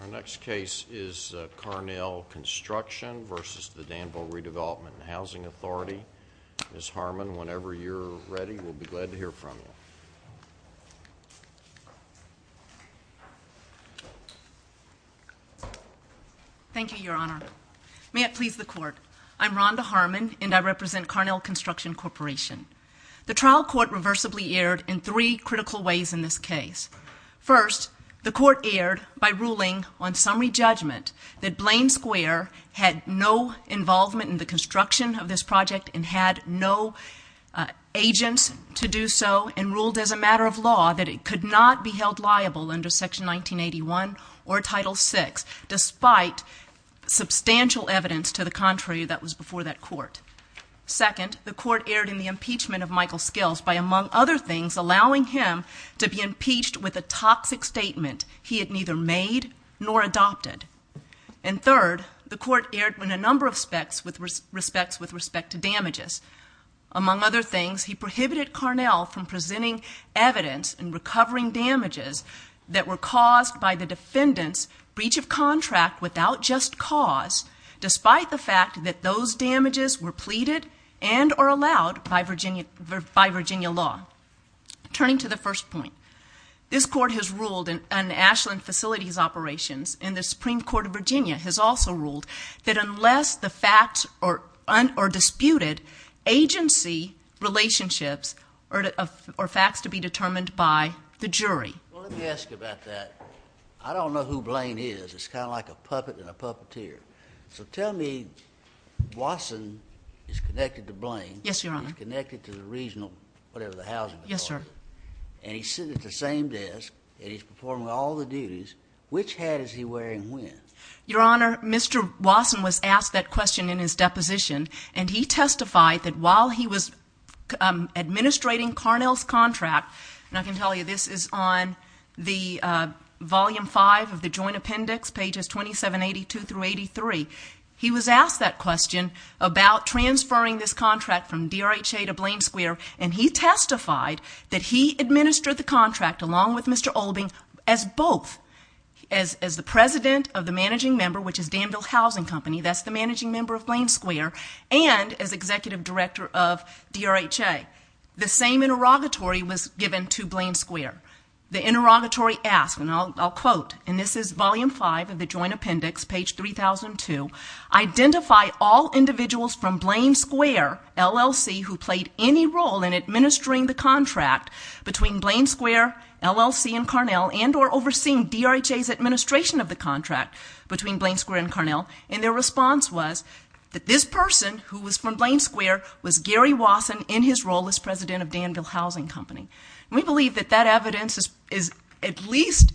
Our next case is Carnell Construction v. Danville Redevelopment and Housing Authority. Ms. Harmon, whenever you're ready, we'll be glad to hear from you. Thank you, Your Honor. May it please the Court. I'm Rhonda Harmon, and I represent Carnell Construction Corporation. The trial court reversibly erred in three critical ways in this case. First, the court erred by ruling on summary judgment that Blaine Square had no involvement in the construction of this project and had no agents to do so, and ruled as a matter of law that it could not be held liable under Section 1981 or Title VI, despite substantial evidence to the contrary that was before that court. Second, the court erred in the impeachment of Michael Skills by, among other things, allowing him to be impeached with a toxic statement he had neither made nor adopted. And third, the court erred in a number of respects with respect to damages. Among other things, he prohibited Carnell from presenting evidence in recovering damages that were caused by the defendant's breach of contract without just cause, despite the fact that those damages were pleaded and or allowed by Virginia law. Turning to the first point, this court has ruled in Ashland Facilities Operations and the Supreme Court of Virginia has also ruled that unless the facts are disputed, agency, relationships, or facts to be determined by the jury. Well, let me ask you about that. I don't know who Blaine is. It's kind of like a puppet and a puppeteer. So tell me, Wasson is connected to Blaine. Yes, Your Honor. He's connected to the regional, whatever the housing department is. Yes, sir. And he's sitting at the same desk, and he's performing all the duties. Which hat is he wearing and when? Your Honor, Mr. Wasson was asked that question in his deposition, and he testified that while he was administrating Carnell's contract, and I can tell you this is on Volume 5 of the Joint Appendix, pages 2782 through 83, he was asked that question about transferring this contract from DRHA to Blaine Square, and he testified that he administered the contract along with Mr. Olding as both, as the president of the managing member, which is Danville Housing Company, that's the managing member of Blaine Square, and as executive director of DRHA. The same interrogatory was given to Blaine Square. The interrogatory asked, and I'll quote, and this is Volume 5 of the Joint Appendix, page 3002, identify all individuals from Blaine Square, LLC, who played any role in administering the contract between Blaine Square, LLC, and Carnell and or overseeing DRHA's administration of the contract between Blaine Square and Carnell, and their response was that this person, who was from Blaine Square, was Gary Wasson in his role as president of Danville Housing Company. We believe that that evidence at least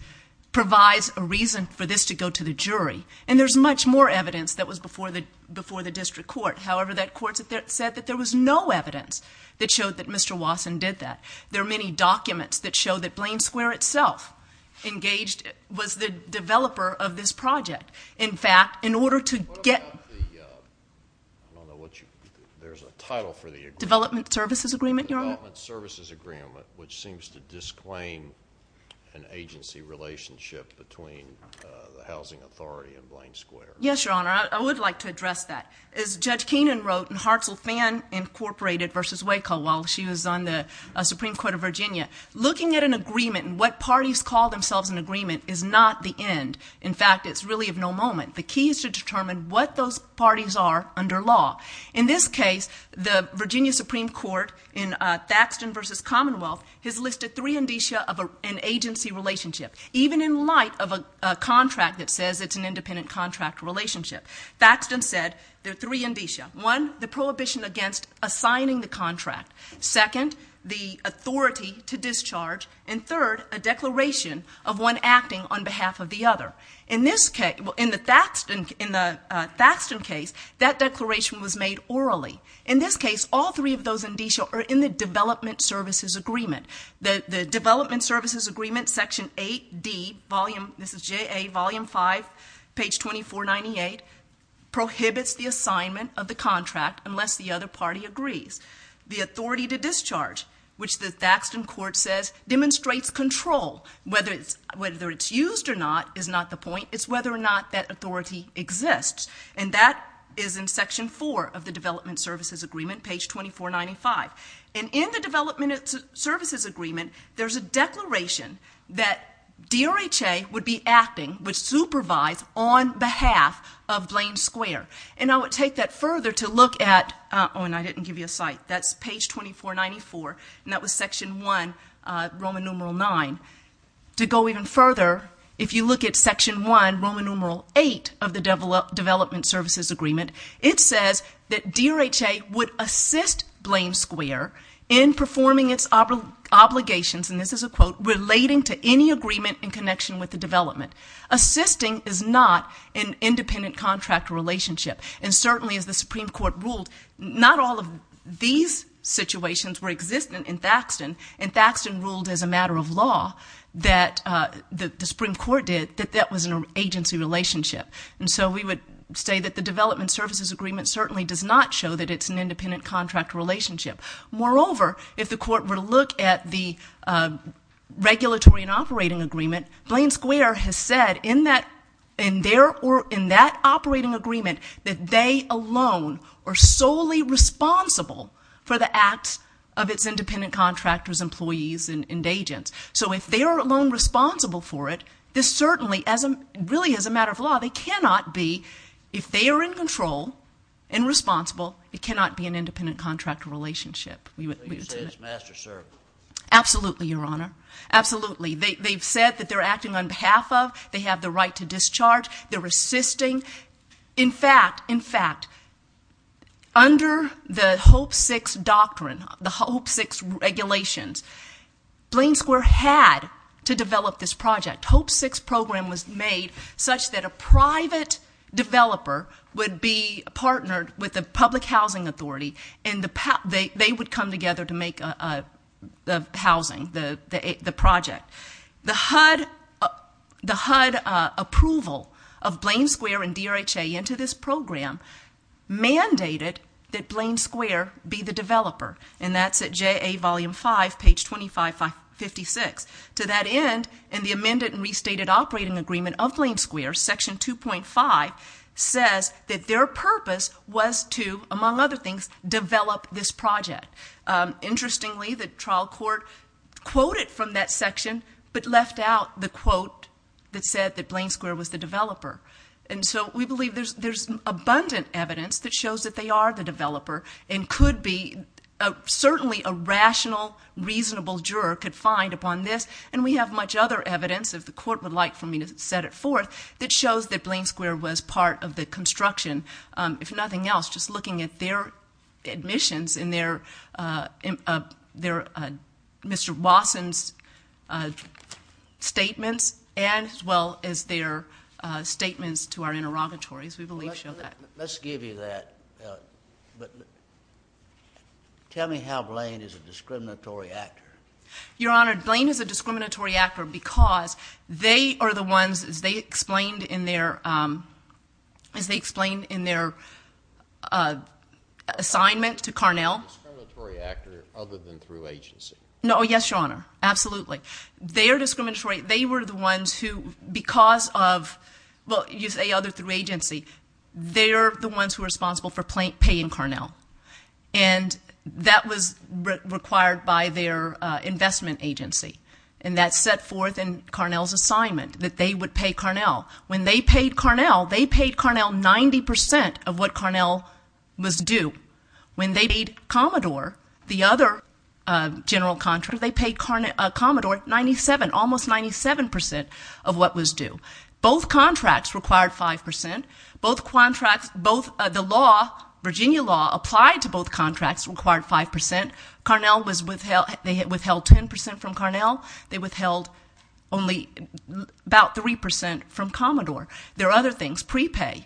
provides a reason for this to go to the jury, and there's much more evidence that was before the district court. However, that court said that there was no evidence that showed that Mr. Wasson did that. There are many documents that show that Blaine Square itself was the developer of this project. In fact, in order to get the development services agreement, which seems to disclaim an agency relationship between the housing authority and Blaine Square. Yes, Your Honor, I would like to address that. As Judge Keenan wrote in Hartzell Fan, Incorporated v. Waco while she was on the Supreme Court of Virginia, looking at an agreement and what parties call themselves an agreement is not the end. In fact, it's really of no moment. The key is to determine what those parties are under law. In this case, the Virginia Supreme Court in Thaxton v. Commonwealth has listed three indicia of an agency relationship, even in light of a contract that says it's an independent contract relationship. Thaxton said there are three indicia. One, the prohibition against assigning the contract. Second, the authority to discharge. And third, a declaration of one acting on behalf of the other. In the Thaxton case, that declaration was made orally. In this case, all three of those indicia are in the development services agreement. The development services agreement, Section 8D, Volume 5, page 2498, prohibits the assignment of the contract unless the other party agrees. The authority to discharge, which the Thaxton court says demonstrates control. Whether it's used or not is not the point. It's whether or not that authority exists. And that is in Section 4 of the development services agreement, page 2495. And in the development services agreement, there's a declaration that DRHA would be acting, would supervise, on behalf of Blaine Square. And I would take that further to look at, oh, and I didn't give you a site. That's page 2494, and that was Section 1, Roman numeral 9. To go even further, if you look at Section 1, Roman numeral 8, of the development services agreement, it says that DRHA would assist Blaine Square in performing its obligations, and this is a quote, relating to any agreement in connection with the development. Assisting is not an independent contract relationship. And certainly, as the Supreme Court ruled, not all of these situations were existent in Thaxton, and Thaxton ruled as a matter of law that the Supreme Court did, that that was an agency relationship. And so we would say that the development services agreement certainly does not show that it's an independent contract relationship. Moreover, if the court were to look at the regulatory and operating agreement, Blaine Square has said in that operating agreement that they alone are solely responsible for the acts of its independent contractors, employees, and agents. So if they are alone responsible for it, this certainly really is a matter of law. They cannot be. If they are in control and responsible, it cannot be an independent contractor relationship. So you say it's master-servant? Absolutely, Your Honor. Absolutely. They've said that they're acting on behalf of, they have the right to discharge, they're assisting. In fact, in fact, under the HOPE VI doctrine, the HOPE VI regulations, Blaine Square had to develop this project. HOPE VI program was made such that a private developer would be partnered with a public housing authority, and they would come together to make the housing, the project. The HUD approval of Blaine Square and DRHA into this program mandated that Blaine Square be the developer, and that's at JA Volume 5, page 2556. To that end, in the amended and restated operating agreement of Blaine Square, Section 2.5 says that their purpose was to, among other things, develop this project. Interestingly, the trial court quoted from that section but left out the quote that said that Blaine Square was the developer. And so we believe there's abundant evidence that shows that they are the developer and could be certainly a rational, reasonable juror could find upon this, and we have much other evidence, if the court would like for me to set it forth, that shows that Blaine Square was part of the construction. If nothing else, just looking at their admissions and Mr. Wasson's statements as well as their statements to our interrogatories, we believe show that. Let's give you that. Tell me how Blaine is a discriminatory actor. Your Honor, Blaine is a discriminatory actor because they are the ones, as they explained in their assignment to Carnell. A discriminatory actor other than through agency. No, yes, Your Honor, absolutely. They are discriminatory. They were the ones who, because of, well, you say other through agency. They're the ones who are responsible for paying Carnell, and that was required by their investment agency, and that's set forth in Carnell's assignment, that they would pay Carnell. When they paid Carnell, they paid Carnell 90% of what Carnell was due. When they paid Commodore, the other general contractor, they paid Commodore 97, almost 97% of what was due. Both contracts required 5%. Both contracts, both the law, Virginia law applied to both contracts required 5%. Carnell was withheld. They withheld 10% from Carnell. They withheld only about 3% from Commodore. There are other things, prepay.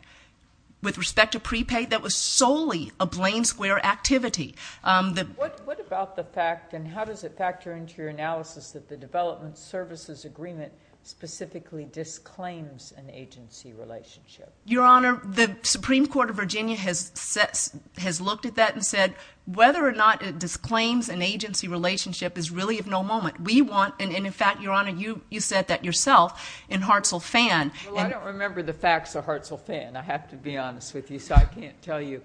With respect to prepay, that was solely a Blaine Square activity. What about the fact, and how does it factor into your analysis, that the Development Services Agreement specifically disclaims an agency relationship? Your Honor, the Supreme Court of Virginia has looked at that and said whether or not it disclaims an agency relationship is really of no moment. We want, and in fact, Your Honor, you said that yourself in Hartzell-Fann. Well, I don't remember the facts of Hartzell-Fann, I have to be honest with you, so I can't tell you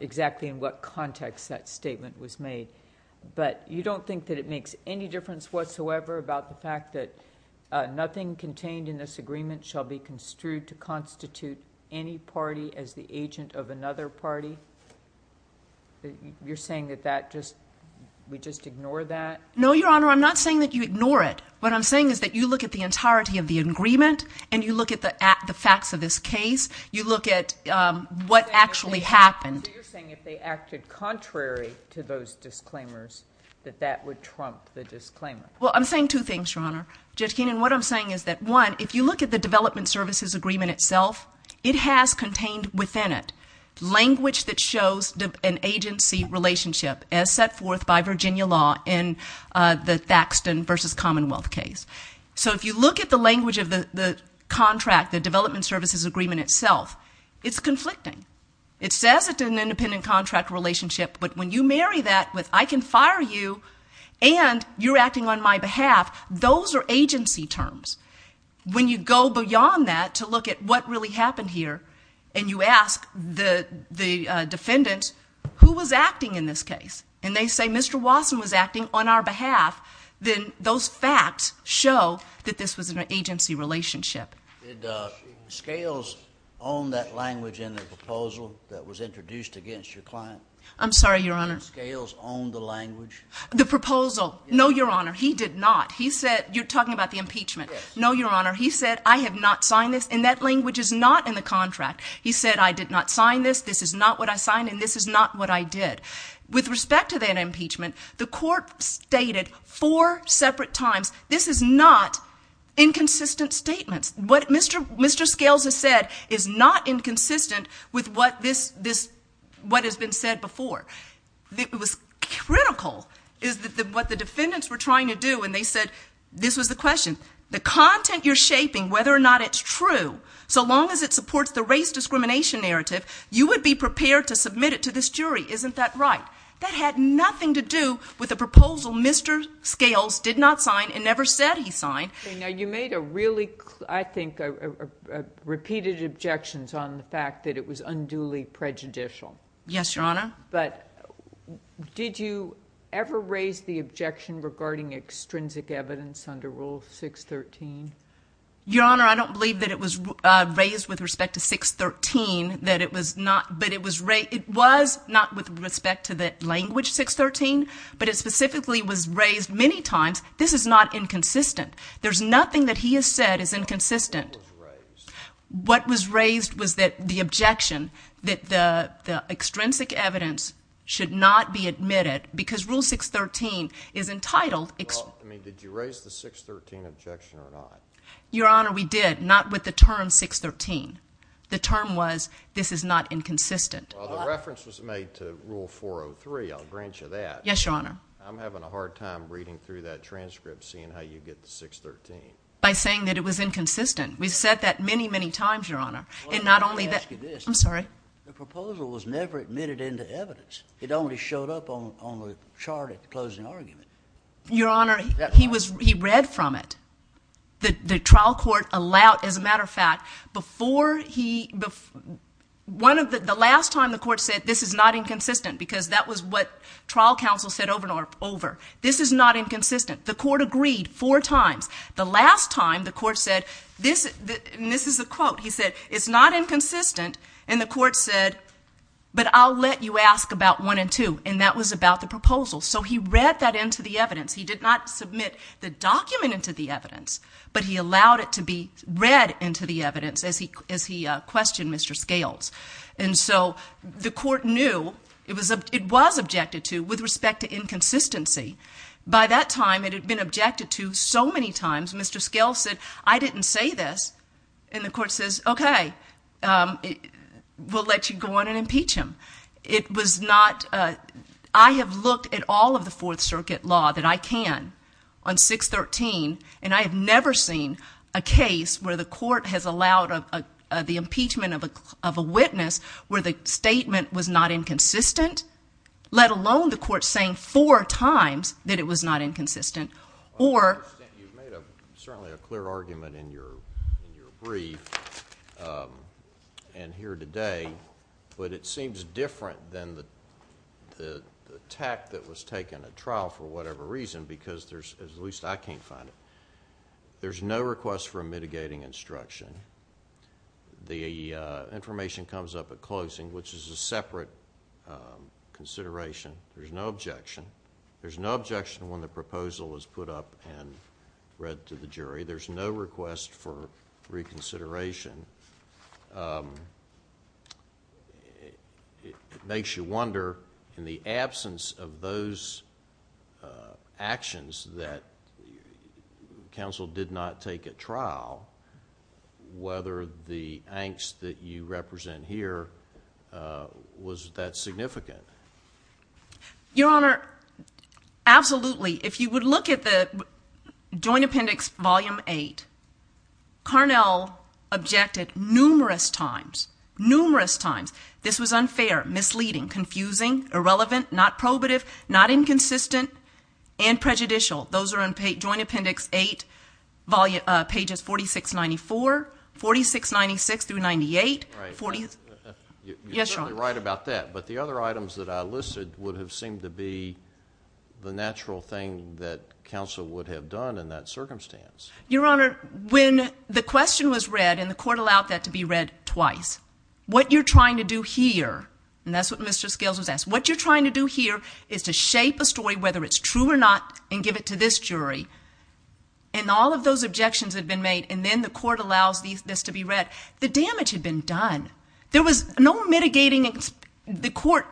exactly in what context that statement was made. But you don't think that it makes any difference whatsoever about the fact that nothing contained in this agreement shall be construed to constitute any party as the agent of another party? You're saying that we just ignore that? No, Your Honor, I'm not saying that you ignore it. What I'm saying is that you look at the entirety of the agreement and you look at the facts of this case. You look at what actually happened. So you're saying if they acted contrary to those disclaimers, that that would trump the disclaimer? Well, I'm saying two things, Your Honor. What I'm saying is that, one, if you look at the Development Services Agreement itself, it has contained within it language that shows an agency relationship as set forth by Virginia law in the Thaxton v. Commonwealth case. So if you look at the language of the contract, the Development Services Agreement itself, it's conflicting. It says it's an independent contract relationship, but when you marry that with I can fire you and you're acting on my behalf, those are agency terms. When you go beyond that to look at what really happened here and you ask the defendant who was acting in this case and they say Mr. Wasson was acting on our behalf, then those facts show that this was an agency relationship. Did Scales own that language in the proposal that was introduced against your client? I'm sorry, Your Honor. Did Scales own the language? The proposal? No, Your Honor, he did not. You're talking about the impeachment. No, Your Honor, he said I have not signed this, and that language is not in the contract. He said I did not sign this, this is not what I signed, and this is not what I did. With respect to that impeachment, the court stated four separate times this is not inconsistent statements. What Mr. Scales has said is not inconsistent with what has been said before. What was critical is what the defendants were trying to do when they said, this was the question, the content you're shaping, whether or not it's true, so long as it supports the race discrimination narrative, you would be prepared to submit it to this jury. Isn't that right? That had nothing to do with the proposal Mr. Scales did not sign and never said he signed. Now, you made a really, I think, repeated objections on the fact that it was unduly prejudicial. Yes, Your Honor. But did you ever raise the objection regarding extrinsic evidence under Rule 613? Your Honor, I don't believe that it was raised with respect to 613, that it was not, but it was not with respect to the language 613, but it specifically was raised many times this is not inconsistent. There's nothing that he has said is inconsistent. What was raised? What was raised was that the objection that the extrinsic evidence should not be admitted because Rule 613 is entitled. Did you raise the 613 objection or not? Your Honor, we did, not with the term 613. The term was this is not inconsistent. Well, the reference was made to Rule 403. I'll grant you that. Yes, Your Honor. I'm having a hard time reading through that transcript seeing how you get to 613. By saying that it was inconsistent. We've said that many, many times, Your Honor. I'm sorry. The proposal was never admitted into evidence. It only showed up on the chart at the closing argument. Your Honor, he read from it. The trial court allowed, as a matter of fact, the last time the court said this is not inconsistent because that was what trial counsel said over and over. This is not inconsistent. The court agreed four times. The last time the court said, and this is a quote, he said, it's not inconsistent, and the court said, but I'll let you ask about one and two, and that was about the proposal. So he read that into the evidence. He did not submit the document into the evidence, but he allowed it to be read into the evidence as he questioned Mr. Scales. And so the court knew it was objected to with respect to inconsistency. By that time, it had been objected to so many times, Mr. Scales said, I didn't say this, and the court says, okay, we'll let you go on and impeach him. It was not – I have looked at all of the Fourth Circuit law that I can on 613, and I have never seen a case where the court has allowed the impeachment of a witness where the statement was not inconsistent, let alone the court saying four times that it was not inconsistent. You've made certainly a clear argument in your brief and here today, but it seems different than the tact that was taken at trial for whatever reason because there's – at least I can't find it. There's no request for a mitigating instruction. The information comes up at closing, which is a separate consideration. There's no objection. There's no objection when the proposal is put up and read to the jury. There's no request for reconsideration. It makes you wonder, in the absence of those actions that counsel did not take at trial, whether the angst that you represent here was that significant. Your Honor, absolutely. If you would look at the Joint Appendix, Volume 8, Carnell objected numerous times, numerous times this was unfair, misleading, confusing, irrelevant, not probative, not inconsistent, and prejudicial. Those are in Joint Appendix 8, pages 4694, 4696 through 98. You're certainly right about that, but the other items that I listed would have seemed to be the natural thing that counsel would have done in that circumstance. Your Honor, when the question was read and the court allowed that to be read twice, what you're trying to do here, and that's what Mr. Scales was asked, what you're trying to do here is to shape a story, whether it's true or not, and give it to this jury. And all of those objections had been made, and then the court allows this to be read. The damage had been done. There was no mitigating the court.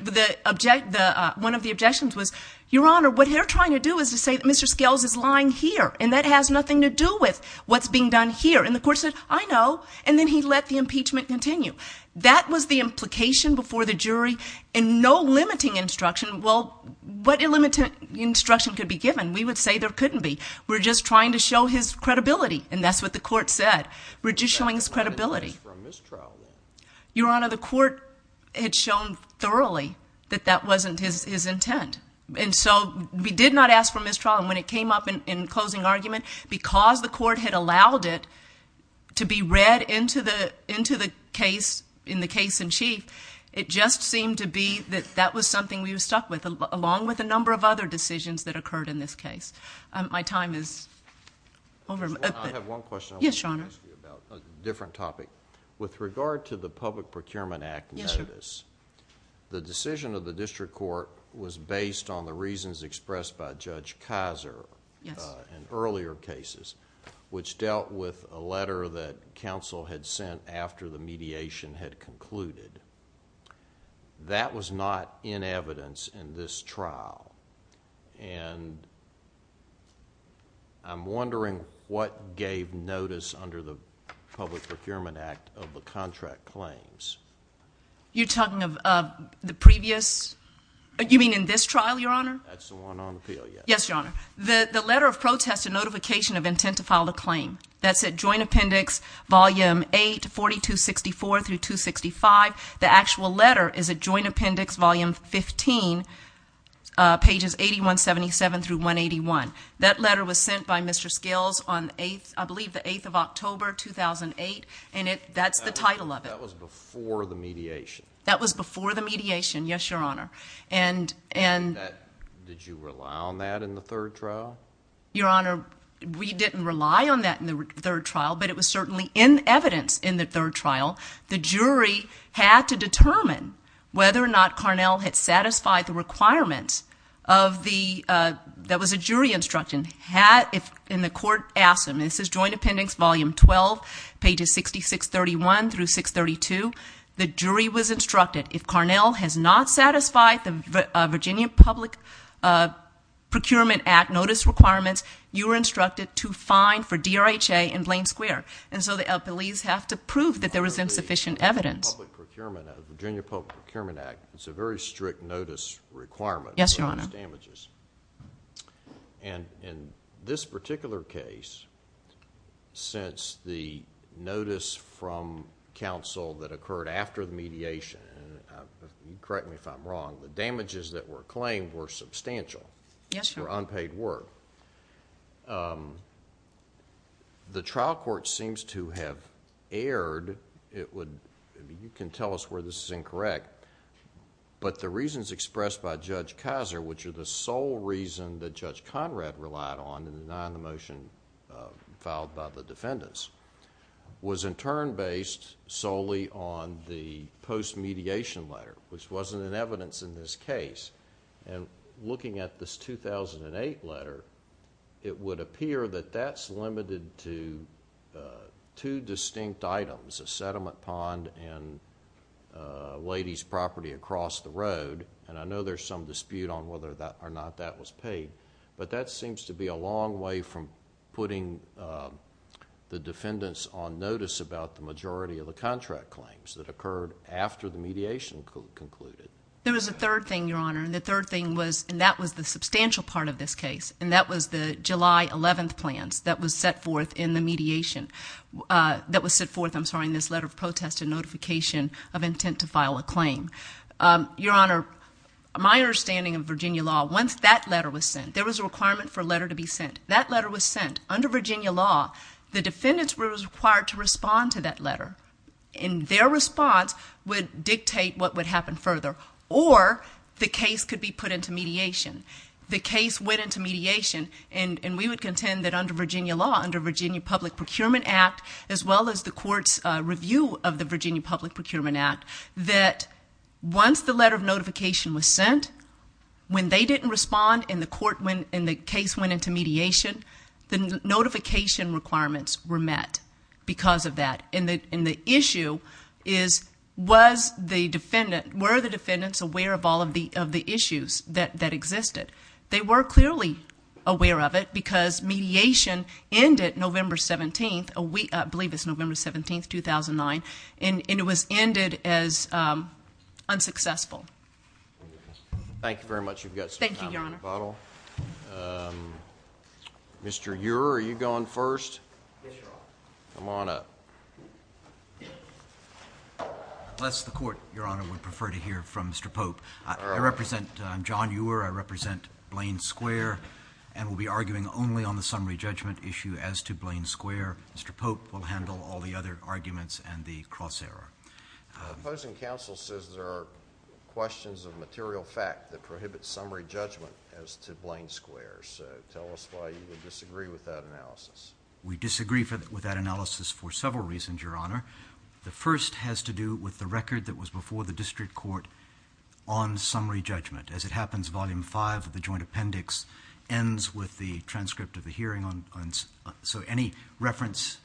One of the objections was, Your Honor, what they're trying to do is to say that Mr. Scales is lying here, and that has nothing to do with what's being done here. And the court said, I know, and then he let the impeachment continue. That was the implication before the jury, and no limiting instruction. Well, what limiting instruction could be given? We would say there couldn't be. We're just trying to show his credibility, and that's what the court said. We're just showing his credibility. Your Honor, the court had shown thoroughly that that wasn't his intent. And so we did not ask for mistrial, and when it came up in closing argument, because the court had allowed it to be read into the case in the case in chief, it just seemed to be that that was something we were stuck with, along with a number of other decisions that occurred in this case. My time is over. I have one question. Yes, Your Honor. A different topic. With regard to the Public Procurement Act notice, the decision of the district court was based on the reasons expressed by Judge Kaiser in earlier cases, which dealt with a letter that counsel had sent after the mediation had concluded. That was not in evidence in this trial, and I'm wondering what gave notice under the Public Procurement Act of the contract claims. You're talking of the previous? You mean in this trial, Your Honor? That's the one on appeal, yes. Yes, Your Honor. The letter of protest and notification of intent to file the claim. That's at Joint Appendix Volume 8, 4264 through 265. The actual letter is at Joint Appendix Volume 15, pages 8177 through 181. That letter was sent by Mr. Skills on, I believe, the 8th of October, 2008, and that's the title of it. That was before the mediation. That was before the mediation, yes, Your Honor. Did you rely on that in the third trial? Your Honor, we didn't rely on that in the third trial, but it was certainly in evidence in the third trial. The jury had to determine whether or not Carnell had satisfied the requirements that was a jury instruction. And the court asked them. This is Joint Appendix Volume 12, pages 6631 through 632. The jury was instructed, if Carnell has not satisfied the Virginia Public Procurement Act notice requirements, you are instructed to fine for DRHA in Blaine Square. And so the police have to prove that there was insufficient evidence. The Virginia Public Procurement Act is a very strict notice requirement. Yes, Your Honor. In this particular case, since the notice from counsel that occurred after the mediation, and correct me if I'm wrong, the damages that were claimed were substantial. Yes, Your Honor. They were unpaid work. The trial court seems to have erred. You can tell us where this is incorrect, but the reasons expressed by Judge Kaiser, which are the sole reason that Judge Conrad relied on in denying the motion filed by the defendants, was in turn based solely on the post-mediation letter, which wasn't in evidence in this case. And looking at this 2008 letter, it would appear that that's limited to two distinct items, a sediment pond and a lady's property across the road. And I know there's some dispute on whether or not that was paid, but that seems to be a long way from putting the defendants on notice about the majority of the contract claims that occurred after the mediation concluded. There was a third thing, Your Honor, and the third thing was, and that was the substantial part of this case, and that was the July 11th plans that was set forth in the mediation, that was set forth, I'm sorry, in this letter of protest and notification of intent to file a claim. Your Honor, my understanding of Virginia law, once that letter was sent, there was a requirement for a letter to be sent. That letter was sent. Under Virginia law, the defendants were required to respond to that letter, and their response would dictate what would happen further, or the case could be put into mediation. The case went into mediation, and we would contend that under Virginia law, under Virginia Public Procurement Act, as well as the court's review of the Virginia Public Procurement Act, that once the letter of notification was sent, when they didn't respond and the case went into mediation, the notification requirements were met because of that and the issue is was the defendant, were the defendants aware of all of the issues that existed? They were clearly aware of it because mediation ended November 17th, I believe it's November 17th, 2009, and it was ended as unsuccessful. Thank you very much. Thank you, Your Honor. Mr. Uhrer, are you going first? Yes, Your Honor. Come on up. Unless the court, Your Honor, would prefer to hear from Mr. Pope. I represent John Uhrer. I represent Blaine Square and will be arguing only on the summary judgment issue as to Blaine Square. Mr. Pope will handle all the other arguments and the cross-error. The opposing counsel says there are questions of material fact that prohibit summary judgment as to Blaine Square, so tell us why you would disagree with that analysis. We disagree with that analysis for several reasons, Your Honor. The first has to do with the record that was before the district court on summary judgment. As it happens, Volume 5 of the Joint Appendix ends with the transcript of the hearing. So any reference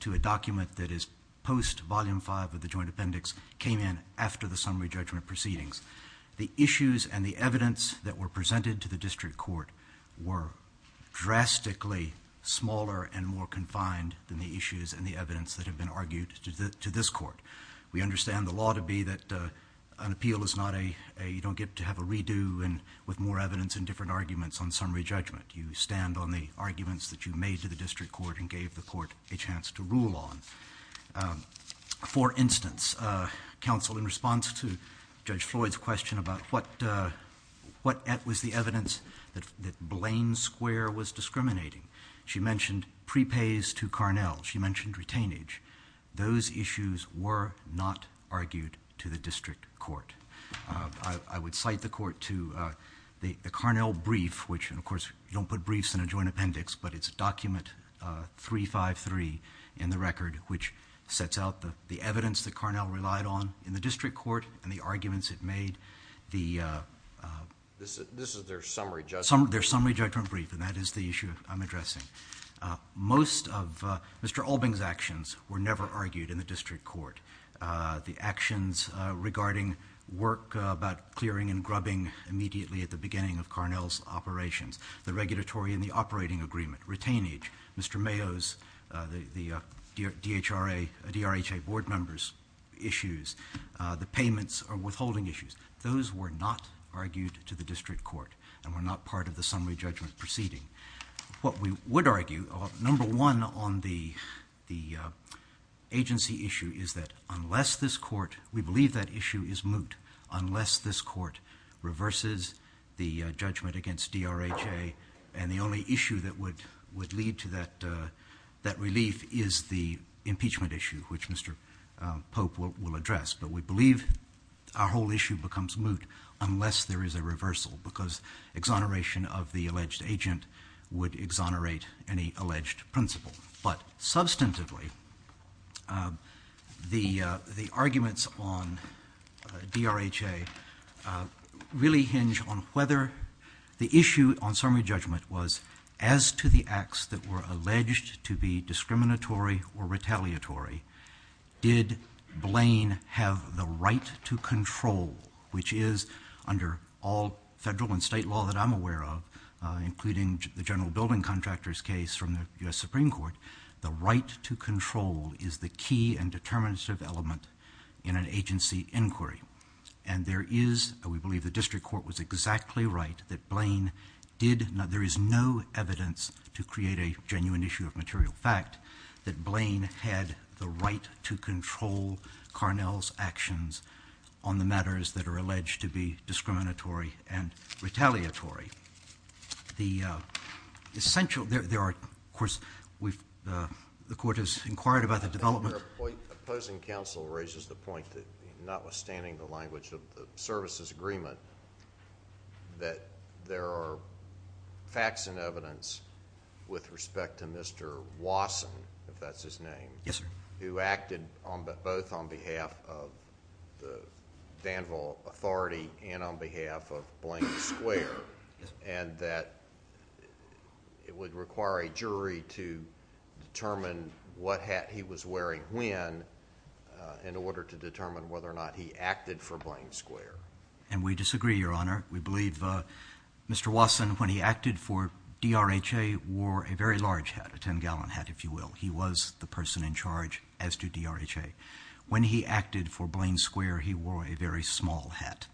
to a document that is post Volume 5 of the Joint Appendix came in after the summary judgment proceedings. The issues and the evidence that were presented to the district court were drastically smaller and more confined than the issues and the evidence that have been argued to this court. We understand the law to be that an appeal is not a you don't get to have a redo with more evidence and different arguments on summary judgment. You stand on the arguments that you made to the district court and gave the court a chance to rule on. For instance, counsel, in response to Judge Floyd's question about what was the evidence that Blaine Square was discriminating, she mentioned prepays to Carnell. She mentioned retainage. Those issues were not argued to the district court. I would cite the court to the Carnell brief, which, of course, you don't put briefs in a joint appendix, but it's document 353 in the record, which sets out the evidence that Carnell relied on in the district court and the arguments it made. This is their summary judgment brief. Their summary judgment brief, and that is the issue I'm addressing. Most of Mr. Albing's actions were never argued in the district court. The actions regarding work about clearing and grubbing immediately at the beginning of Carnell's operations, the regulatory and the operating agreement, retainage, Mr. Mayo's, the DHRA, DRHA board members' issues, the payments or withholding issues, those were not argued to the district court and were not part of the summary judgment proceeding. What we would argue, number one on the agency issue, is that unless this court, we believe that issue is moot, unless this court reverses the judgment against DRHA and the only issue that would lead to that relief is the impeachment issue, which Mr. Pope will address. But we believe our whole issue becomes moot unless there is a reversal because exoneration of the alleged agent would exonerate any alleged principle. But substantively, the arguments on DRHA really hinge on whether the issue on summary judgment was as to the acts that were alleged to be discriminatory or retaliatory, did Blaine have the right to control, which is under all federal and state law that I'm aware of, including the general building contractor's case from the U.S. Supreme Court, the right to control is the key and determinative element in an agency inquiry. And there is, we believe the district court was exactly right that Blaine did not, there is no evidence to create a genuine issue of material fact that Blaine had the right to control Carnell's actions on the matters that are alleged to be discriminatory and retaliatory. The essential, there are, of course, the court has inquired about the development. The opposing counsel raises the point that notwithstanding the language of the services agreement that there are facts and evidence with respect to Mr. Wasson, if that's his name, who acted both on behalf of the Danville authority and on behalf of Blaine Square, and that it would require a jury to determine what hat he was wearing when in order to determine whether or not he acted for Blaine Square. And we disagree, Your Honor. We believe Mr. Wasson, when he acted for DRHA, wore a very large hat, a 10-gallon hat, if you will. He was the person in charge as to DRHA. When he acted for Blaine Square, he wore a very small hat.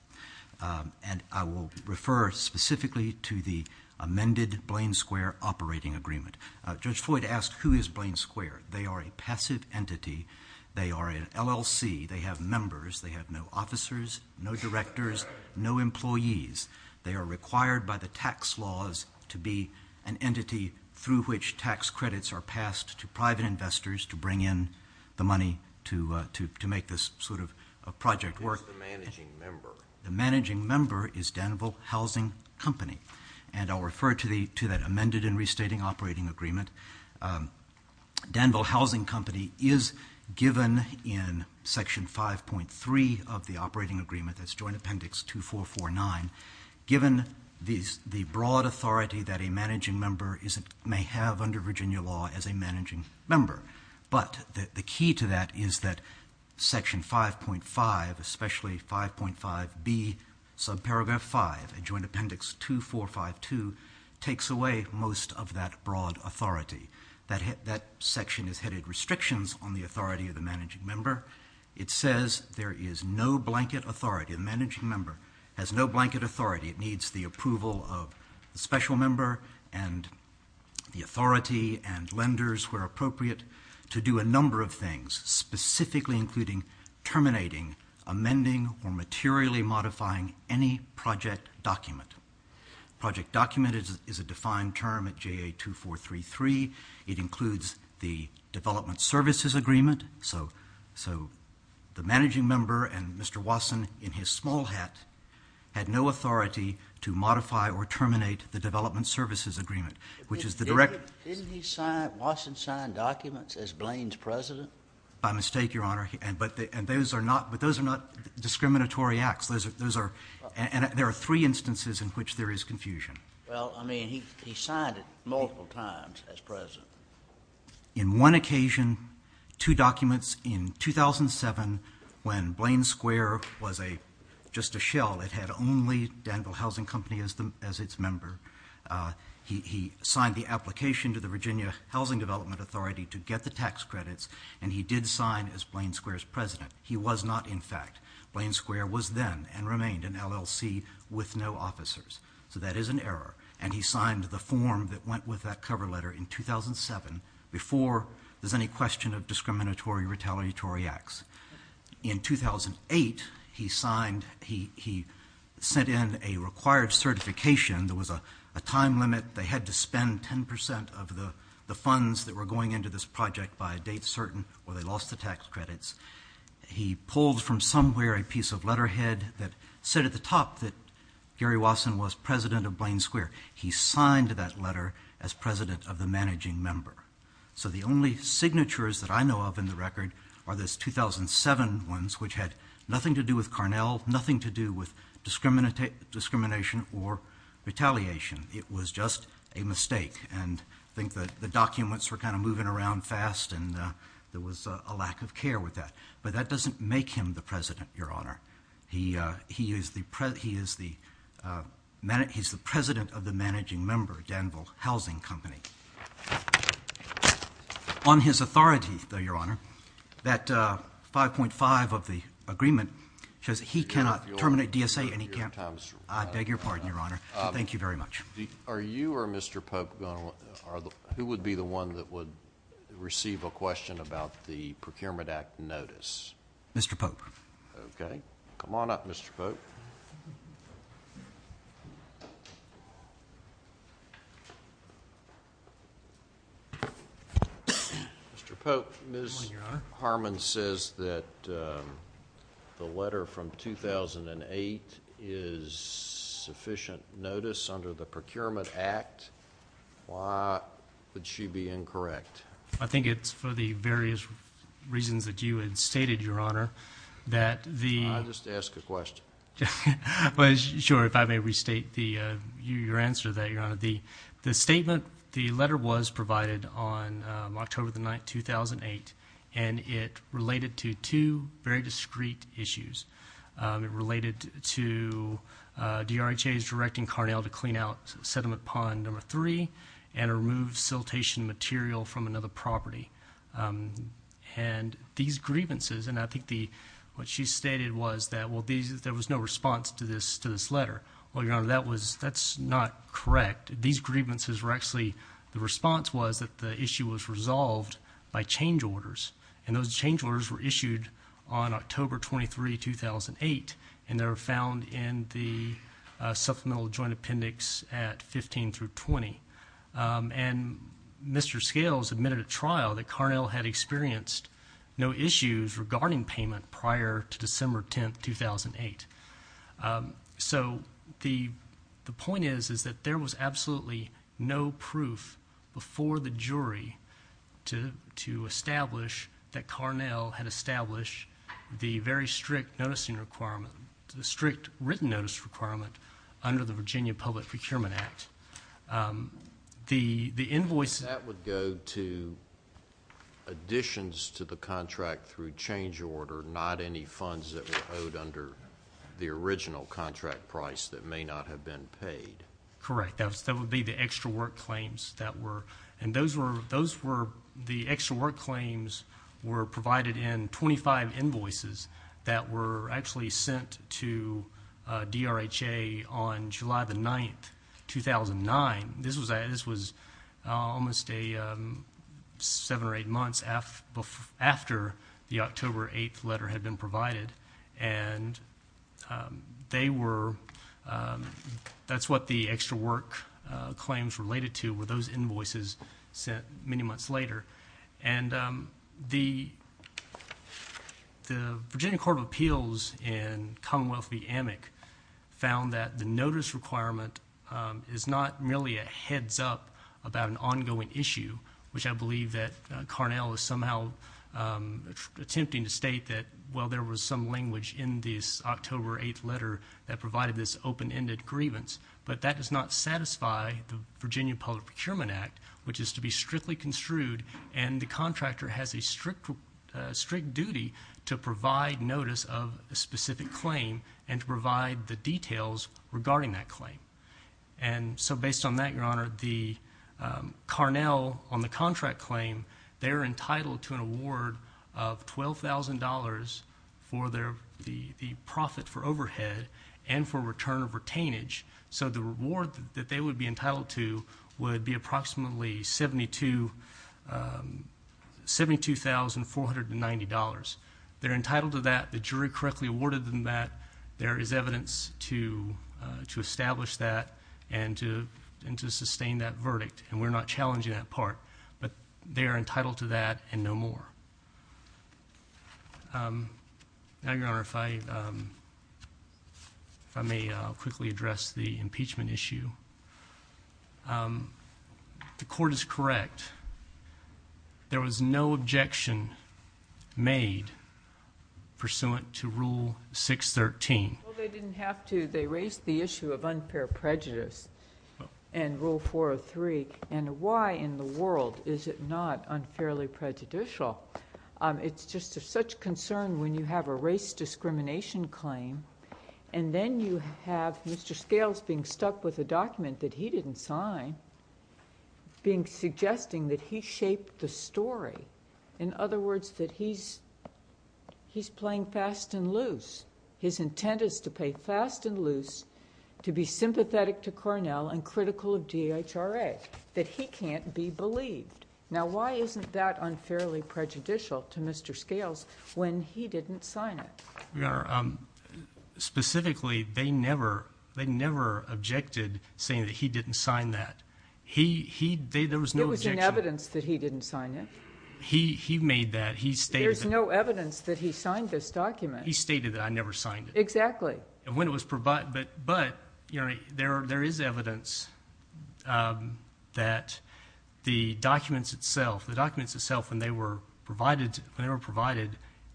And I will refer specifically to the amended Blaine Square operating agreement. Judge Floyd asked who is Blaine Square. They are a passive entity. They are an LLC. They have members. They have no officers, no directors, no employees. They are required by the tax laws to be an entity through which tax credits are passed to private investors to bring in the money to make this sort of project work. Who is the managing member? The managing member is Danville Housing Company. And I'll refer to that amended and restating operating agreement. Danville Housing Company is given in Section 5.3 of the operating agreement, that's Joint Appendix 2449, given the broad authority that a managing member may have under Virginia law as a managing member. But the key to that is that Section 5.5, especially 5.5B, subparagraph 5, Joint Appendix 2452, takes away most of that broad authority. That section is headed restrictions on the authority of the managing member. It says there is no blanket authority. The managing member has no blanket authority. It needs the approval of the special member and the authority and lenders where appropriate to do a number of things, specifically including terminating, amending, or materially modifying any project document. Project document is a defined term at JA2433. It includes the development services agreement. So the managing member and Mr. Wasson, in his small hat, had no authority to modify or terminate the development services agreement, which is the direct... Didn't Wasson sign documents as Blaine's president? By mistake, Your Honor. But those are not discriminatory acts. There are three instances in which there is confusion. Well, I mean, he signed it multiple times as president. In one occasion, two documents in 2007 when Blaine Square was just a shell. It had only Danville Housing Company as its member. He signed the application to the Virginia Housing Development Authority to get the tax credits, and he did sign as Blaine Square's president. He was not, in fact. Blaine Square was then and remained an LLC with no officers. So that is an error, and he signed the form that went with that cover letter in 2007 before there's any question of discriminatory, retaliatory acts. In 2008, he sent in a required certification. There was a time limit. They had to spend 10% of the funds that were going into this project by a date certain or they lost the tax credits. He pulled from somewhere a piece of letterhead that said at the top that Gary Wasson was president of Blaine Square. He signed that letter as president of the managing member. So the only signatures that I know of in the record are those 2007 ones, which had nothing to do with Carnell, nothing to do with discrimination or retaliation. It was just a mistake, and I think the documents were kind of moving around fast, and there was a lack of care with that. But that doesn't make him the president, Your Honor. He is the president of the managing member, Danville Housing Company. On his authority, though, Your Honor, that 5.5 of the agreement says he cannot terminate DSA. I beg your pardon, Your Honor. Thank you very much. Are you or Mr. Polk, who would be the one that would receive a question about the Procurement Act notice? Mr. Polk. Okay. Come on up, Mr. Polk. Mr. Polk, Ms. Harmon says that the letter from 2008 is sufficient notice under the Procurement Act. Why would she be incorrect? I think it's for the various reasons that you had stated, Your Honor, that the— Just ask a question. Sure. If I may restate your answer to that, Your Honor. The statement, the letter was provided on October the 9th, 2008, and it related to two very discreet issues. It related to DRHA's directing Carnell to clean out Sediment Pond No. 3 and remove siltation material from another property. And these grievances—and I think what she stated was that, well, there was no response to this letter. Well, Your Honor, that's not correct. These grievances were actually—the response was that the issue was resolved by change orders, and those change orders were issued on October 23, 2008, and they were found in the Supplemental Joint Appendix at 15 through 20. And Mr. Scales admitted at trial that Carnell had experienced no issues regarding payment prior to December 10, 2008. So the point is that there was absolutely no proof before the jury to establish that Carnell had established the very strict written notice requirement under the Virginia Public Procurement Act. The invoice— That would go to additions to the contract through change order, not any funds that were owed under the original contract price that may not have been paid. Correct. That would be the extra work claims that were—and those were—the extra work claims were provided in 25 invoices that were actually sent to DRHA on July the 9th, 2009. This was almost 7 or 8 months after the October 8th letter had been provided, and they were—that's what the extra work claims related to were those invoices sent many months later. And the Virginia Court of Appeals in Commonwealth v. AMIC found that the notice requirement is not merely a heads-up about an ongoing issue, which I believe that Carnell is somehow attempting to state that, well, there was some language in this October 8th letter that provided this open-ended grievance, but that does not satisfy the Virginia Public Procurement Act, which is to be strictly construed and the contractor has a strict duty to provide notice of a specific claim and to provide the details regarding that claim. And so based on that, Your Honor, the Carnell on the contract claim, they're entitled to an award of $12,000 for their—the profit for overhead and for return of retainage. So the reward that they would be entitled to would be approximately $72,490. They're entitled to that. The jury correctly awarded them that. There is evidence to establish that and to sustain that verdict, and we're not challenging that part, but they are entitled to that and no more. Now, Your Honor, if I may quickly address the impeachment issue. The court is correct. There was no objection made pursuant to Rule 613. Well, they didn't have to. They raised the issue of unfair prejudice in Rule 403, and why in the world is it not unfairly prejudicial? It's just of such concern when you have a race discrimination claim and then you have Mr. Scales being stuck with a document that he didn't sign, being—suggesting that he shaped the story. In other words, that he's playing fast and loose. His intent is to play fast and loose, to be sympathetic to Carnell and critical of DHRA, that he can't be believed. Now, why isn't that unfairly prejudicial to Mr. Scales when he didn't sign it? Your Honor, specifically, they never objected saying that he didn't sign that. There was no objection. There was no evidence that he didn't sign it. He made that. There's no evidence that he signed this document. He stated that I never signed it. Exactly. But there is evidence that the documents itself, when they were provided,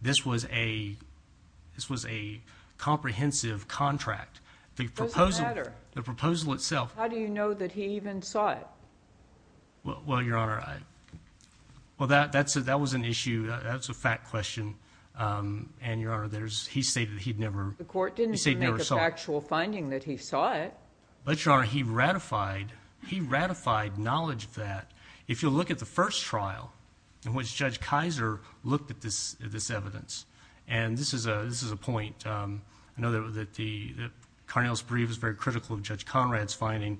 this was a comprehensive contract. It doesn't matter. The proposal itself— How do you know that he even saw it? Well, Your Honor, that was an issue. That's a fact question. And, Your Honor, he stated he'd never— The court didn't make a factual finding that he saw it. But, Your Honor, he ratified knowledge of that. If you look at the first trial in which Judge Kaiser looked at this evidence, and this is a point. I know that Carnell's brief is very critical of Judge Conrad's finding,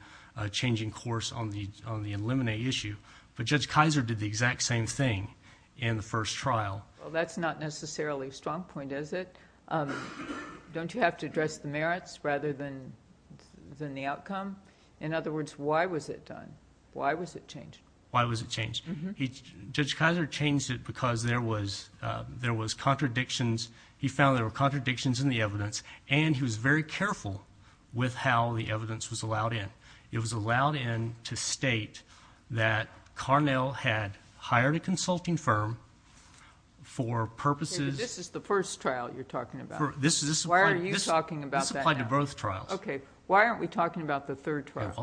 changing course on the eliminate issue. But Judge Kaiser did the exact same thing in the first trial. Well, that's not necessarily a strong point, is it? Don't you have to address the merits rather than the outcome? In other words, why was it done? Why was it changed? Why was it changed? Judge Kaiser changed it because there was contradictions. He found there were contradictions in the evidence, and he was very careful with how the evidence was allowed in. It was allowed in to state that Carnell had hired a consulting firm for purposes— This is the first trial you're talking about. Why are you talking about that now? This applied to both trials. Okay. Why aren't we talking about the third trial?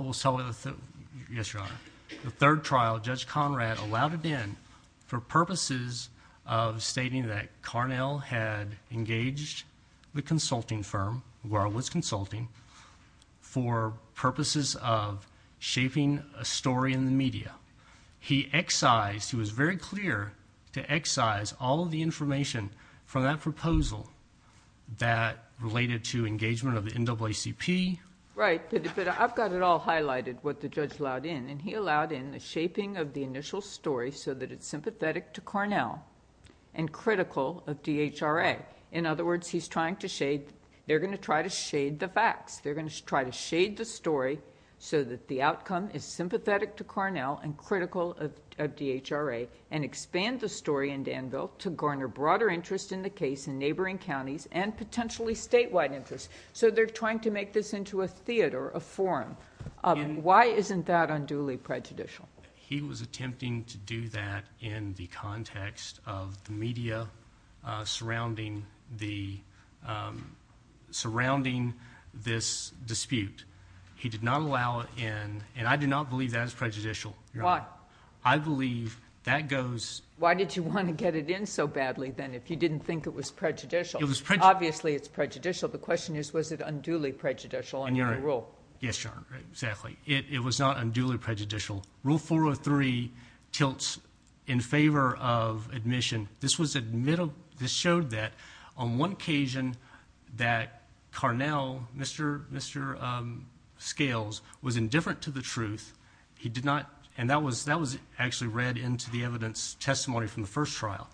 Yes, Your Honor. The third trial, Judge Conrad allowed it in for purposes of stating that Carnell had engaged the consulting firm, where I was consulting, for purposes of shaping a story in the media. He excised—he was very clear to excise all of the information from that proposal that related to engagement of the NAACP. Right, but I've got it all highlighted, what the judge allowed in, and he allowed in the shaping of the initial story so that it's sympathetic to Carnell and critical of DHRA. In other words, he's trying to shade—they're going to try to shade the facts. They're going to try to shade the story so that the outcome is sympathetic to Carnell and critical of DHRA and expand the story in Danville to garner broader interest in the case in neighboring counties and potentially statewide interest. They're trying to make this into a theater, a forum. Why isn't that unduly prejudicial? He was attempting to do that in the context of the media surrounding this dispute. He did not allow it in, and I do not believe that is prejudicial, Your Honor. Why? I believe that goes— Why did you want to get it in so badly, then, if you didn't think it was prejudicial? Obviously, it's prejudicial. The question is, was it unduly prejudicial under the rule? Yes, Your Honor, exactly. It was not unduly prejudicial. Rule 403 tilts in favor of admission. This showed that on one occasion that Carnell, Mr. Scales, was indifferent to the truth. He did not—and that was actually read into the evidence testimony from the first trial.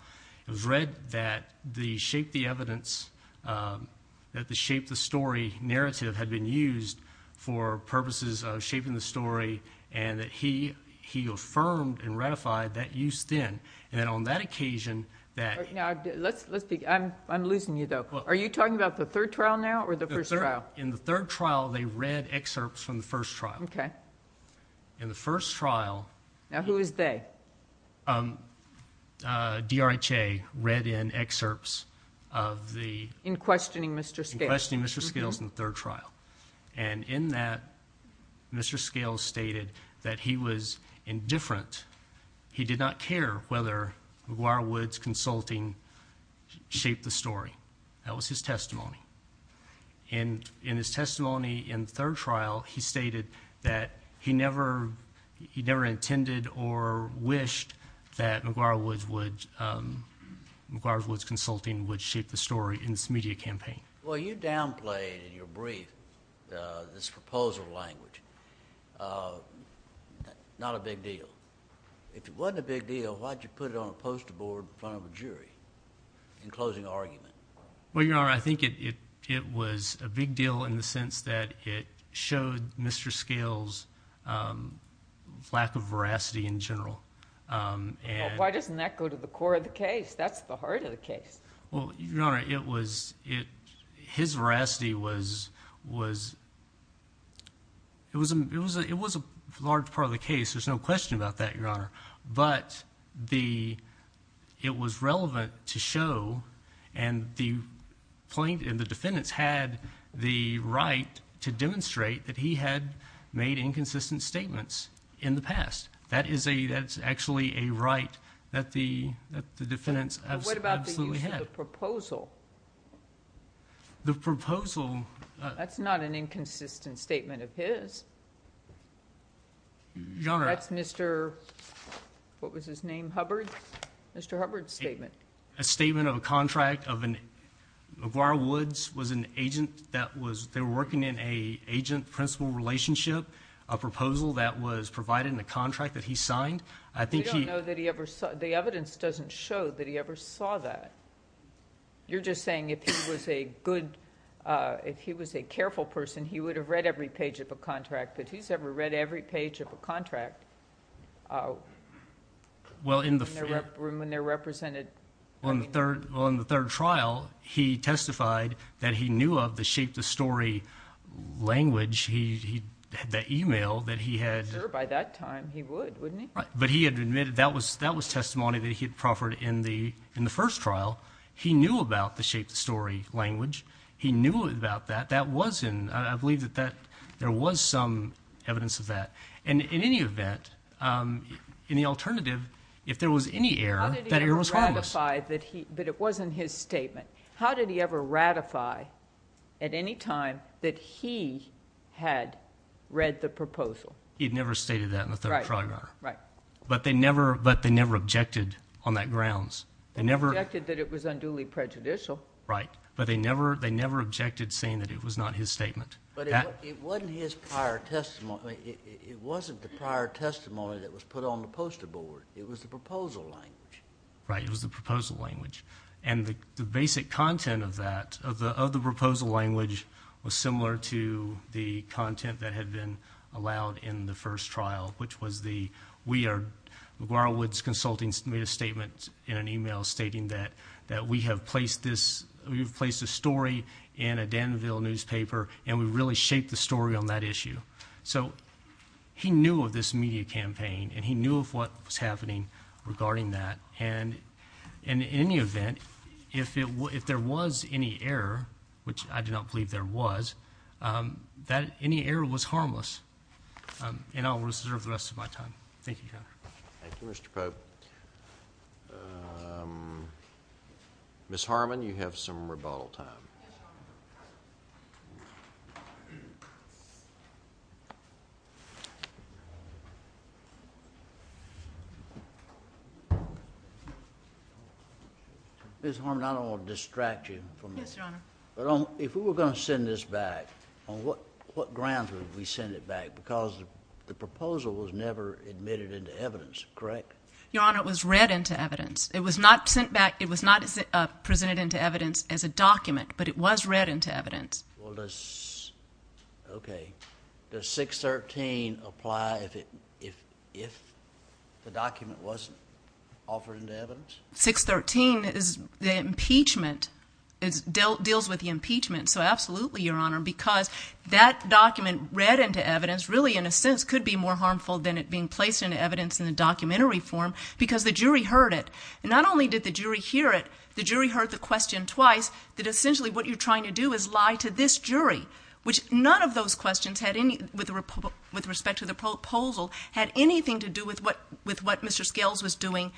It was read that the Shape the Story narrative had been used for purposes of shaping the story, and that he affirmed and ratified that use then. Then on that occasion, that— I'm losing you, though. Are you talking about the third trial now or the first trial? In the third trial, they read excerpts from the first trial. Okay. In the first trial— Now, who is they? DRHA read in excerpts of the— In questioning Mr. Scales. In questioning Mr. Scales in the third trial. And in that, Mr. Scales stated that he was indifferent. He did not care whether McGuire Woods Consulting shaped the story. That was his testimony. And in his testimony in the third trial, he stated that he never intended or wished that McGuire Woods would— McGuire Woods Consulting would shape the story in this media campaign. Well, you downplayed in your brief this proposal language, not a big deal. If it wasn't a big deal, why did you put it on a poster board in front of a jury in closing argument? Well, Your Honor, I think it was a big deal in the sense that it showed Mr. Scales' lack of veracity in general. Why doesn't that go to the core of the case? That's the heart of the case. Well, Your Honor, it was—his veracity was—it was a large part of the case. But the—it was relevant to show and the plaintiff and the defendants had the right to demonstrate that he had made inconsistent statements in the past. That is a—that's actually a right that the defendants absolutely had. What about the use of the proposal? The proposal— That's not an inconsistent statement of his. Your Honor— That's Mr.—what was his name—Hubbard? Mr. Hubbard's statement. A statement of a contract of an—Aguirre-Woods was an agent that was—they were working in an agent-principal relationship, a proposal that was provided in a contract that he signed. I think he— We don't know that he ever—the evidence doesn't show that he ever saw that. You're just saying if he was a good—if he was a careful person, he would have read every page of a contract. But he's never read every page of a contract. Well, in the— When they're represented— On the third trial, he testified that he knew of the Shape the Story language. He had that email that he had— Sure, by that time, he would, wouldn't he? Right. But he had admitted that was testimony that he had proffered in the first trial. He knew about the Shape the Story language. He knew about that. That was in—I believe that that—there was some evidence of that. And in any event, in the alternative, if there was any error, that error was harmless. How did he ever ratify that he—but it wasn't his statement. How did he ever ratify at any time that he had read the proposal? He had never stated that in the third trial, Your Honor. Right. But they never objected on that grounds. They objected that it was unduly prejudicial. Right. But they never objected saying that it was not his statement. But it wasn't his prior testimony. It wasn't the prior testimony that was put on the poster board. It was the proposal language. Right. It was the proposal language. And the basic content of that, of the proposal language, was similar to the content that had been allowed in the first trial, which was the—we are— McGuire Woods Consulting made a statement in an email stating that we have placed this— we have placed a story in a Danville newspaper, and we really shaped the story on that issue. So he knew of this media campaign, and he knew of what was happening regarding that. And in any event, if there was any error, which I do not believe there was, any error was harmless. And I'll reserve the rest of my time. Thank you, Your Honor. Thank you, Mr. Pope. Ms. Harmon, you have some rebuttal time. Ms. Harmon, I don't want to distract you from this. Yes, Your Honor. But if we were going to send this back, on what grounds would we send it back? Because the proposal was never admitted into evidence, correct? Your Honor, it was read into evidence. It was not sent back—it was not presented into evidence as a document, but it was read into evidence. Well, does—OK. Does 613 apply if the document wasn't offered into evidence? 613 is the impeachment—deals with the impeachment. So absolutely, Your Honor, because that document read into evidence really in a sense could be more harmful than it being placed into evidence in the documentary form because the jury heard it. And not only did the jury hear it, the jury heard the question twice, that essentially what you're trying to do is lie to this jury, which none of those questions, with respect to the proposal, had anything to do with what Mr. Scales was doing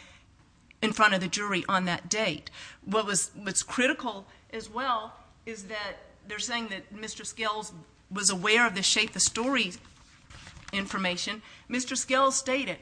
in front of the jury on that date. What's critical as well is that they're saying that Mr. Scales was aware of the shape of story information. Mr. Scales stated,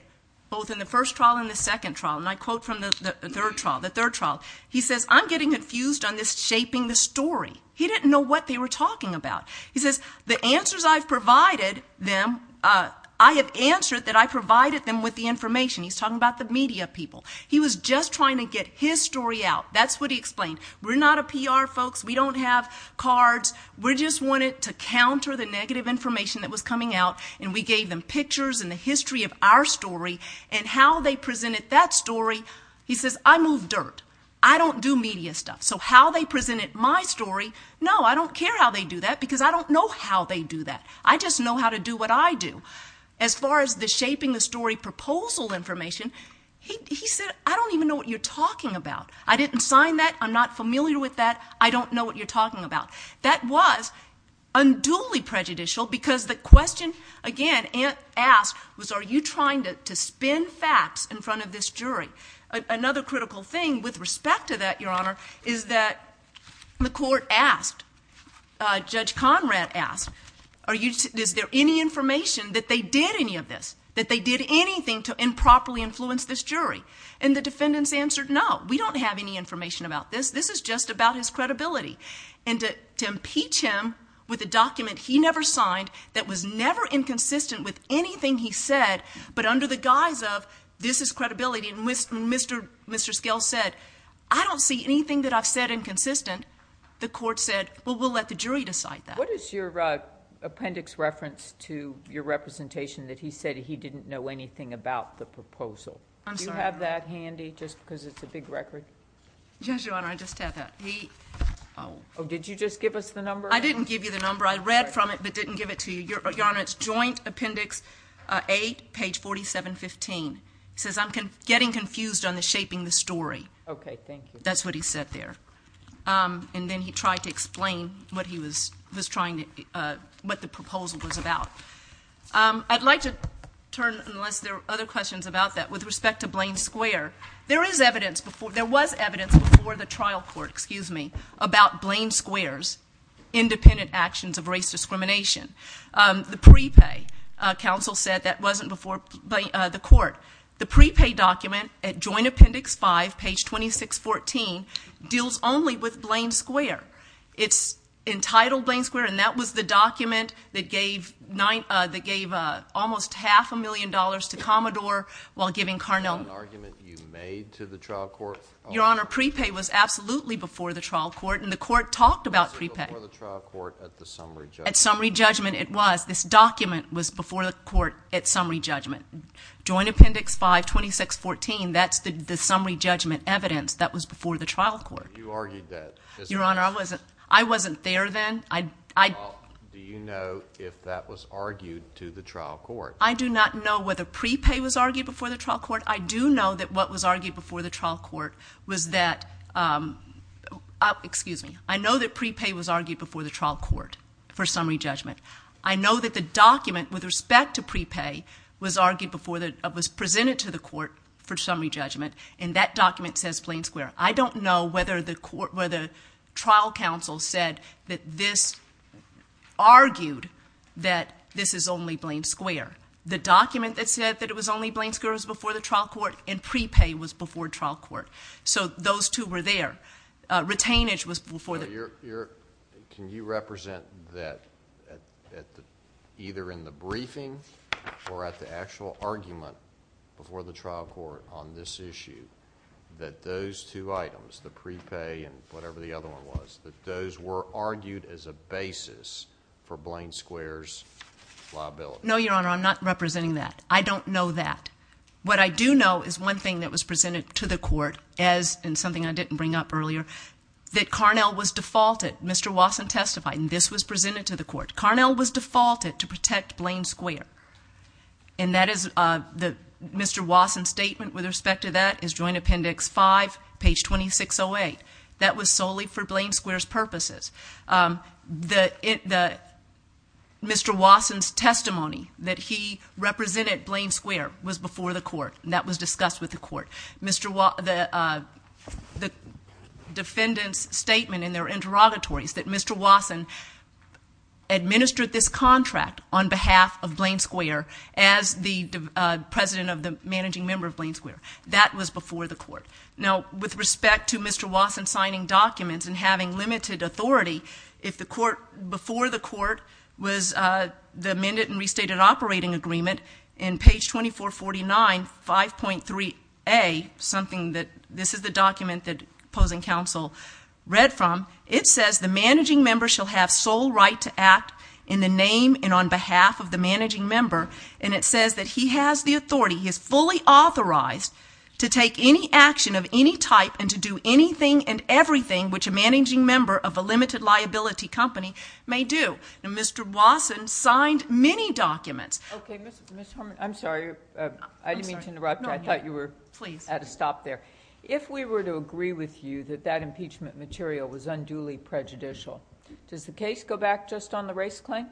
both in the first trial and the second trial, and I quote from the third trial, the third trial, he says, I'm getting confused on this shaping the story. He didn't know what they were talking about. He says, the answers I've provided them—I have answered that I provided them with the information. He's talking about the media people. He was just trying to get his story out. That's what he explained. We're not a PR, folks. We don't have cards. We just wanted to counter the negative information that was coming out, and we gave them pictures and the history of our story and how they presented that story. He says, I move dirt. I don't do media stuff. So how they presented my story, no, I don't care how they do that because I don't know how they do that. I just know how to do what I do. As far as the shaping the story proposal information, he said, I don't even know what you're talking about. I didn't sign that. I'm not familiar with that. I don't know what you're talking about. That was unduly prejudicial because the question, again, asked was, are you trying to spin facts in front of this jury? Another critical thing with respect to that, Your Honor, is that the court asked, Judge Conrad asked, is there any information that they did any of this, that they did anything to improperly influence this jury? And the defendants answered, no, we don't have any information about this. This is just about his credibility. And to impeach him with a document he never signed that was never inconsistent with anything he said, but under the guise of this is credibility, and Mr. Scales said, I don't see anything that I've said inconsistent. The court said, well, we'll let the jury decide that. What is your appendix reference to your representation that he said he didn't know anything about the proposal? I'm sorry. Do you have that handy just because it's a big record? Yes, Your Honor, I just have that. Oh, did you just give us the number? I didn't give you the number. I read from it but didn't give it to you. Your Honor, it's Joint Appendix 8, page 4715. It says, I'm getting confused on the shaping the story. Okay, thank you. That's what he said there. And then he tried to explain what he was trying to, what the proposal was about. I'd like to turn, unless there are other questions about that, with respect to Blaine Square. There is evidence before, there was evidence before the trial court, excuse me, about Blaine Square's independent actions of race discrimination. The prepay, counsel said that wasn't before the court. The prepay document at Joint Appendix 5, page 2614, deals only with Blaine Square. It's entitled Blaine Square, and that was the document that gave almost half a million dollars to Commodore while giving Carnell. Was that an argument you made to the trial court? Your Honor, prepay was absolutely before the trial court, and the court talked about prepay. Was it before the trial court at the summary judgment? At summary judgment it was. This document was before the court at summary judgment. Joint Appendix 5, 2614, that's the summary judgment evidence that was before the trial court. You argued that. Your Honor, I wasn't there then. Do you know if that was argued to the trial court? I do not know whether prepay was argued before the trial court. I do know that what was argued before the trial court was that, excuse me, I know that prepay was argued before the trial court for summary judgment. I know that the document with respect to prepay was presented to the court for summary judgment, and that document says Blaine Square. I don't know whether the trial counsel said that this argued that this is only Blaine Square. The document that said that it was only Blaine Square was before the trial court, and prepay was before trial court. So those two were there. Your Honor, can you represent that either in the briefing or at the actual argument before the trial court on this issue that those two items, the prepay and whatever the other one was, that those were argued as a basis for Blaine Square's liability? No, Your Honor, I'm not representing that. I don't know that. What I do know is one thing that was presented to the court, and something I didn't bring up earlier, that Carnell was defaulted. Mr. Wasson testified, and this was presented to the court. Carnell was defaulted to protect Blaine Square, and that is Mr. Wasson's statement with respect to that is Joint Appendix 5, page 2608. That was solely for Blaine Square's purposes. Mr. Wasson's testimony that he represented Blaine Square was before the court, and that was discussed with the court. The defendant's statement in their interrogatories that Mr. Wasson administered this contract on behalf of Blaine Square as the president of the managing member of Blaine Square, that was before the court. Now, with respect to Mr. Wasson signing documents and having limited authority, if the court, before the court was the amended and restated operating agreement, in page 2449, 5.3a, something that this is the document that opposing counsel read from, it says the managing member shall have sole right to act in the name and on behalf of the managing member, and it says that he has the authority, he is fully authorized to take any action of any type and to do anything and everything which a managing member of a limited liability company may do. Now, Mr. Wasson signed many documents. Okay, Ms. Harmon, I'm sorry. I didn't mean to interrupt you. I thought you were at a stop there. If we were to agree with you that that impeachment material was unduly prejudicial, does the case go back just on the race claim?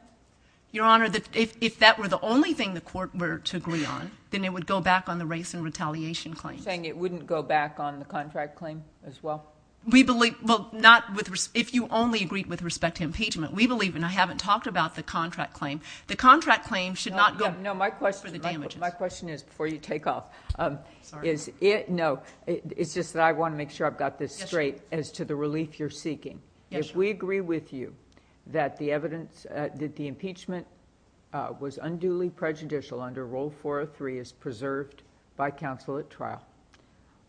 Your Honor, if that were the only thing the court were to agree on, then it would go back on the race and retaliation claim. You're saying it wouldn't go back on the contract claim as well? We believe... well, not with... if you only agreed with respect to impeachment, we believe, and I haven't talked about the contract claim. The contract claim should not go... No, my question is, before you take off... Sorry. No, it's just that I want to make sure I've got this straight as to the relief you're seeking. Yes, Your Honor. If we agree with you that the evidence that the impeachment was unduly prejudicial under Rule 403 is preserved by counsel at trial,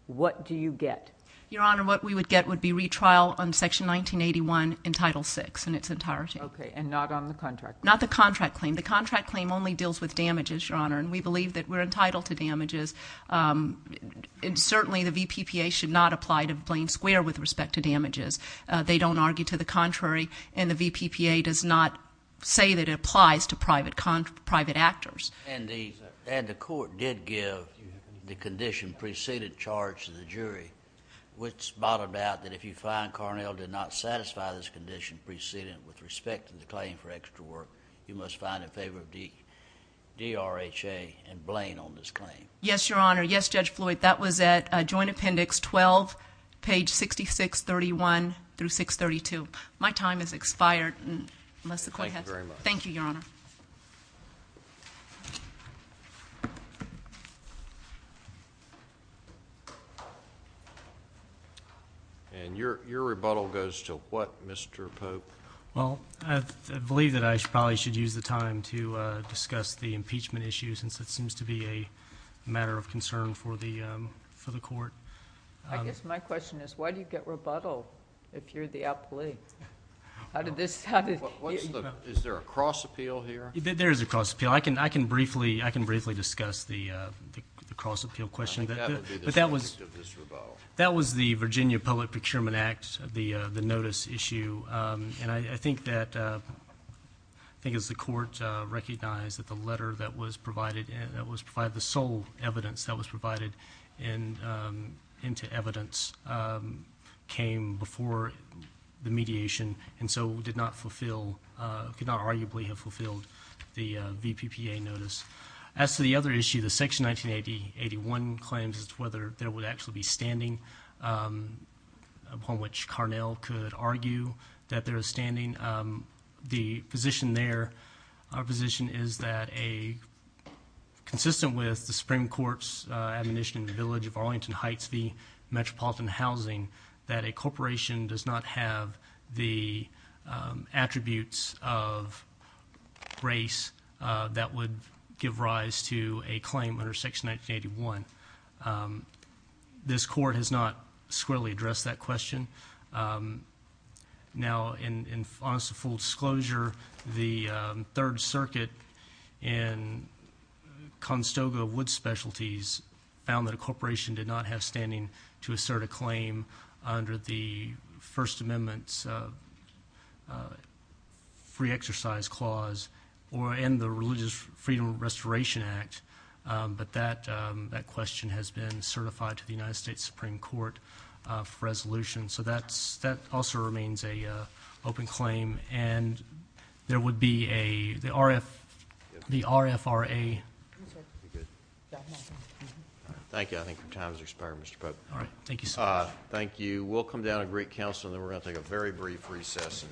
what do you get? Your Honor, what we would get would be retrial on Section 1981 in Title VI in its entirety. Okay, and not on the contract claim? Not the contract claim. The contract claim only deals with damages, Your Honor, and we believe that we're entitled to damages. Certainly, the VPPA should not apply to Blaine Square with respect to damages. They don't argue to the contrary, and the VPPA does not say that it applies to private actors. And the court did give the condition preceding charge to the jury, which bottled out that if you find Carnell did not satisfy this condition preceding it with respect to the claim for extra work, you must find in favor of DRHA and Blaine on this claim. Yes, Your Honor. Yes, Judge Floyd, that was at Joint Appendix 12, page 6631 through 632. My time has expired. Thank you very much. Thank you, Your Honor. And your rebuttal goes to what, Mr. Pope? Well, I believe that I probably should use the time to discuss the impeachment issue since it seems to be a matter of concern for the court. I guess my question is why do you get rebuttal if you're the applee? How did this... Is there a cross appeal here? There is a cross appeal. I can briefly discuss the cross appeal question. That would be the subject of this rebuttal. Well, that was the Virginia Public Procurement Act, the notice issue, and I think that the court recognized that the letter that was provided, the sole evidence that was provided into evidence came before the mediation and so did not arguably have fulfilled the VPPA notice. As to the other issue, the Section 1981 claims as to whether there would actually be standing, upon which Carnell could argue that there is standing. The position there, our position is that a... consistent with the Supreme Court's admonition in the village of Arlington Heights v. Metropolitan Housing, that a corporation does not have the attributes of race that would give rise to a claim under Section 1981. This court has not squarely addressed that question. Now, in honest and full disclosure, the Third Circuit in Conestoga Wood Specialties found that a corporation did not have standing to assert a claim under the First Amendment's Free Exercise Clause and the Religious Freedom Restoration Act, but that question has been certified to the United States Supreme Court for resolution. So that also remains an open claim, and there would be a... the RFRA... Thank you. I think your time has expired, Mr. Pope. All right. Thank you, sir. Thank you. We'll come down to Greek Council and then we're going to take a very brief recess.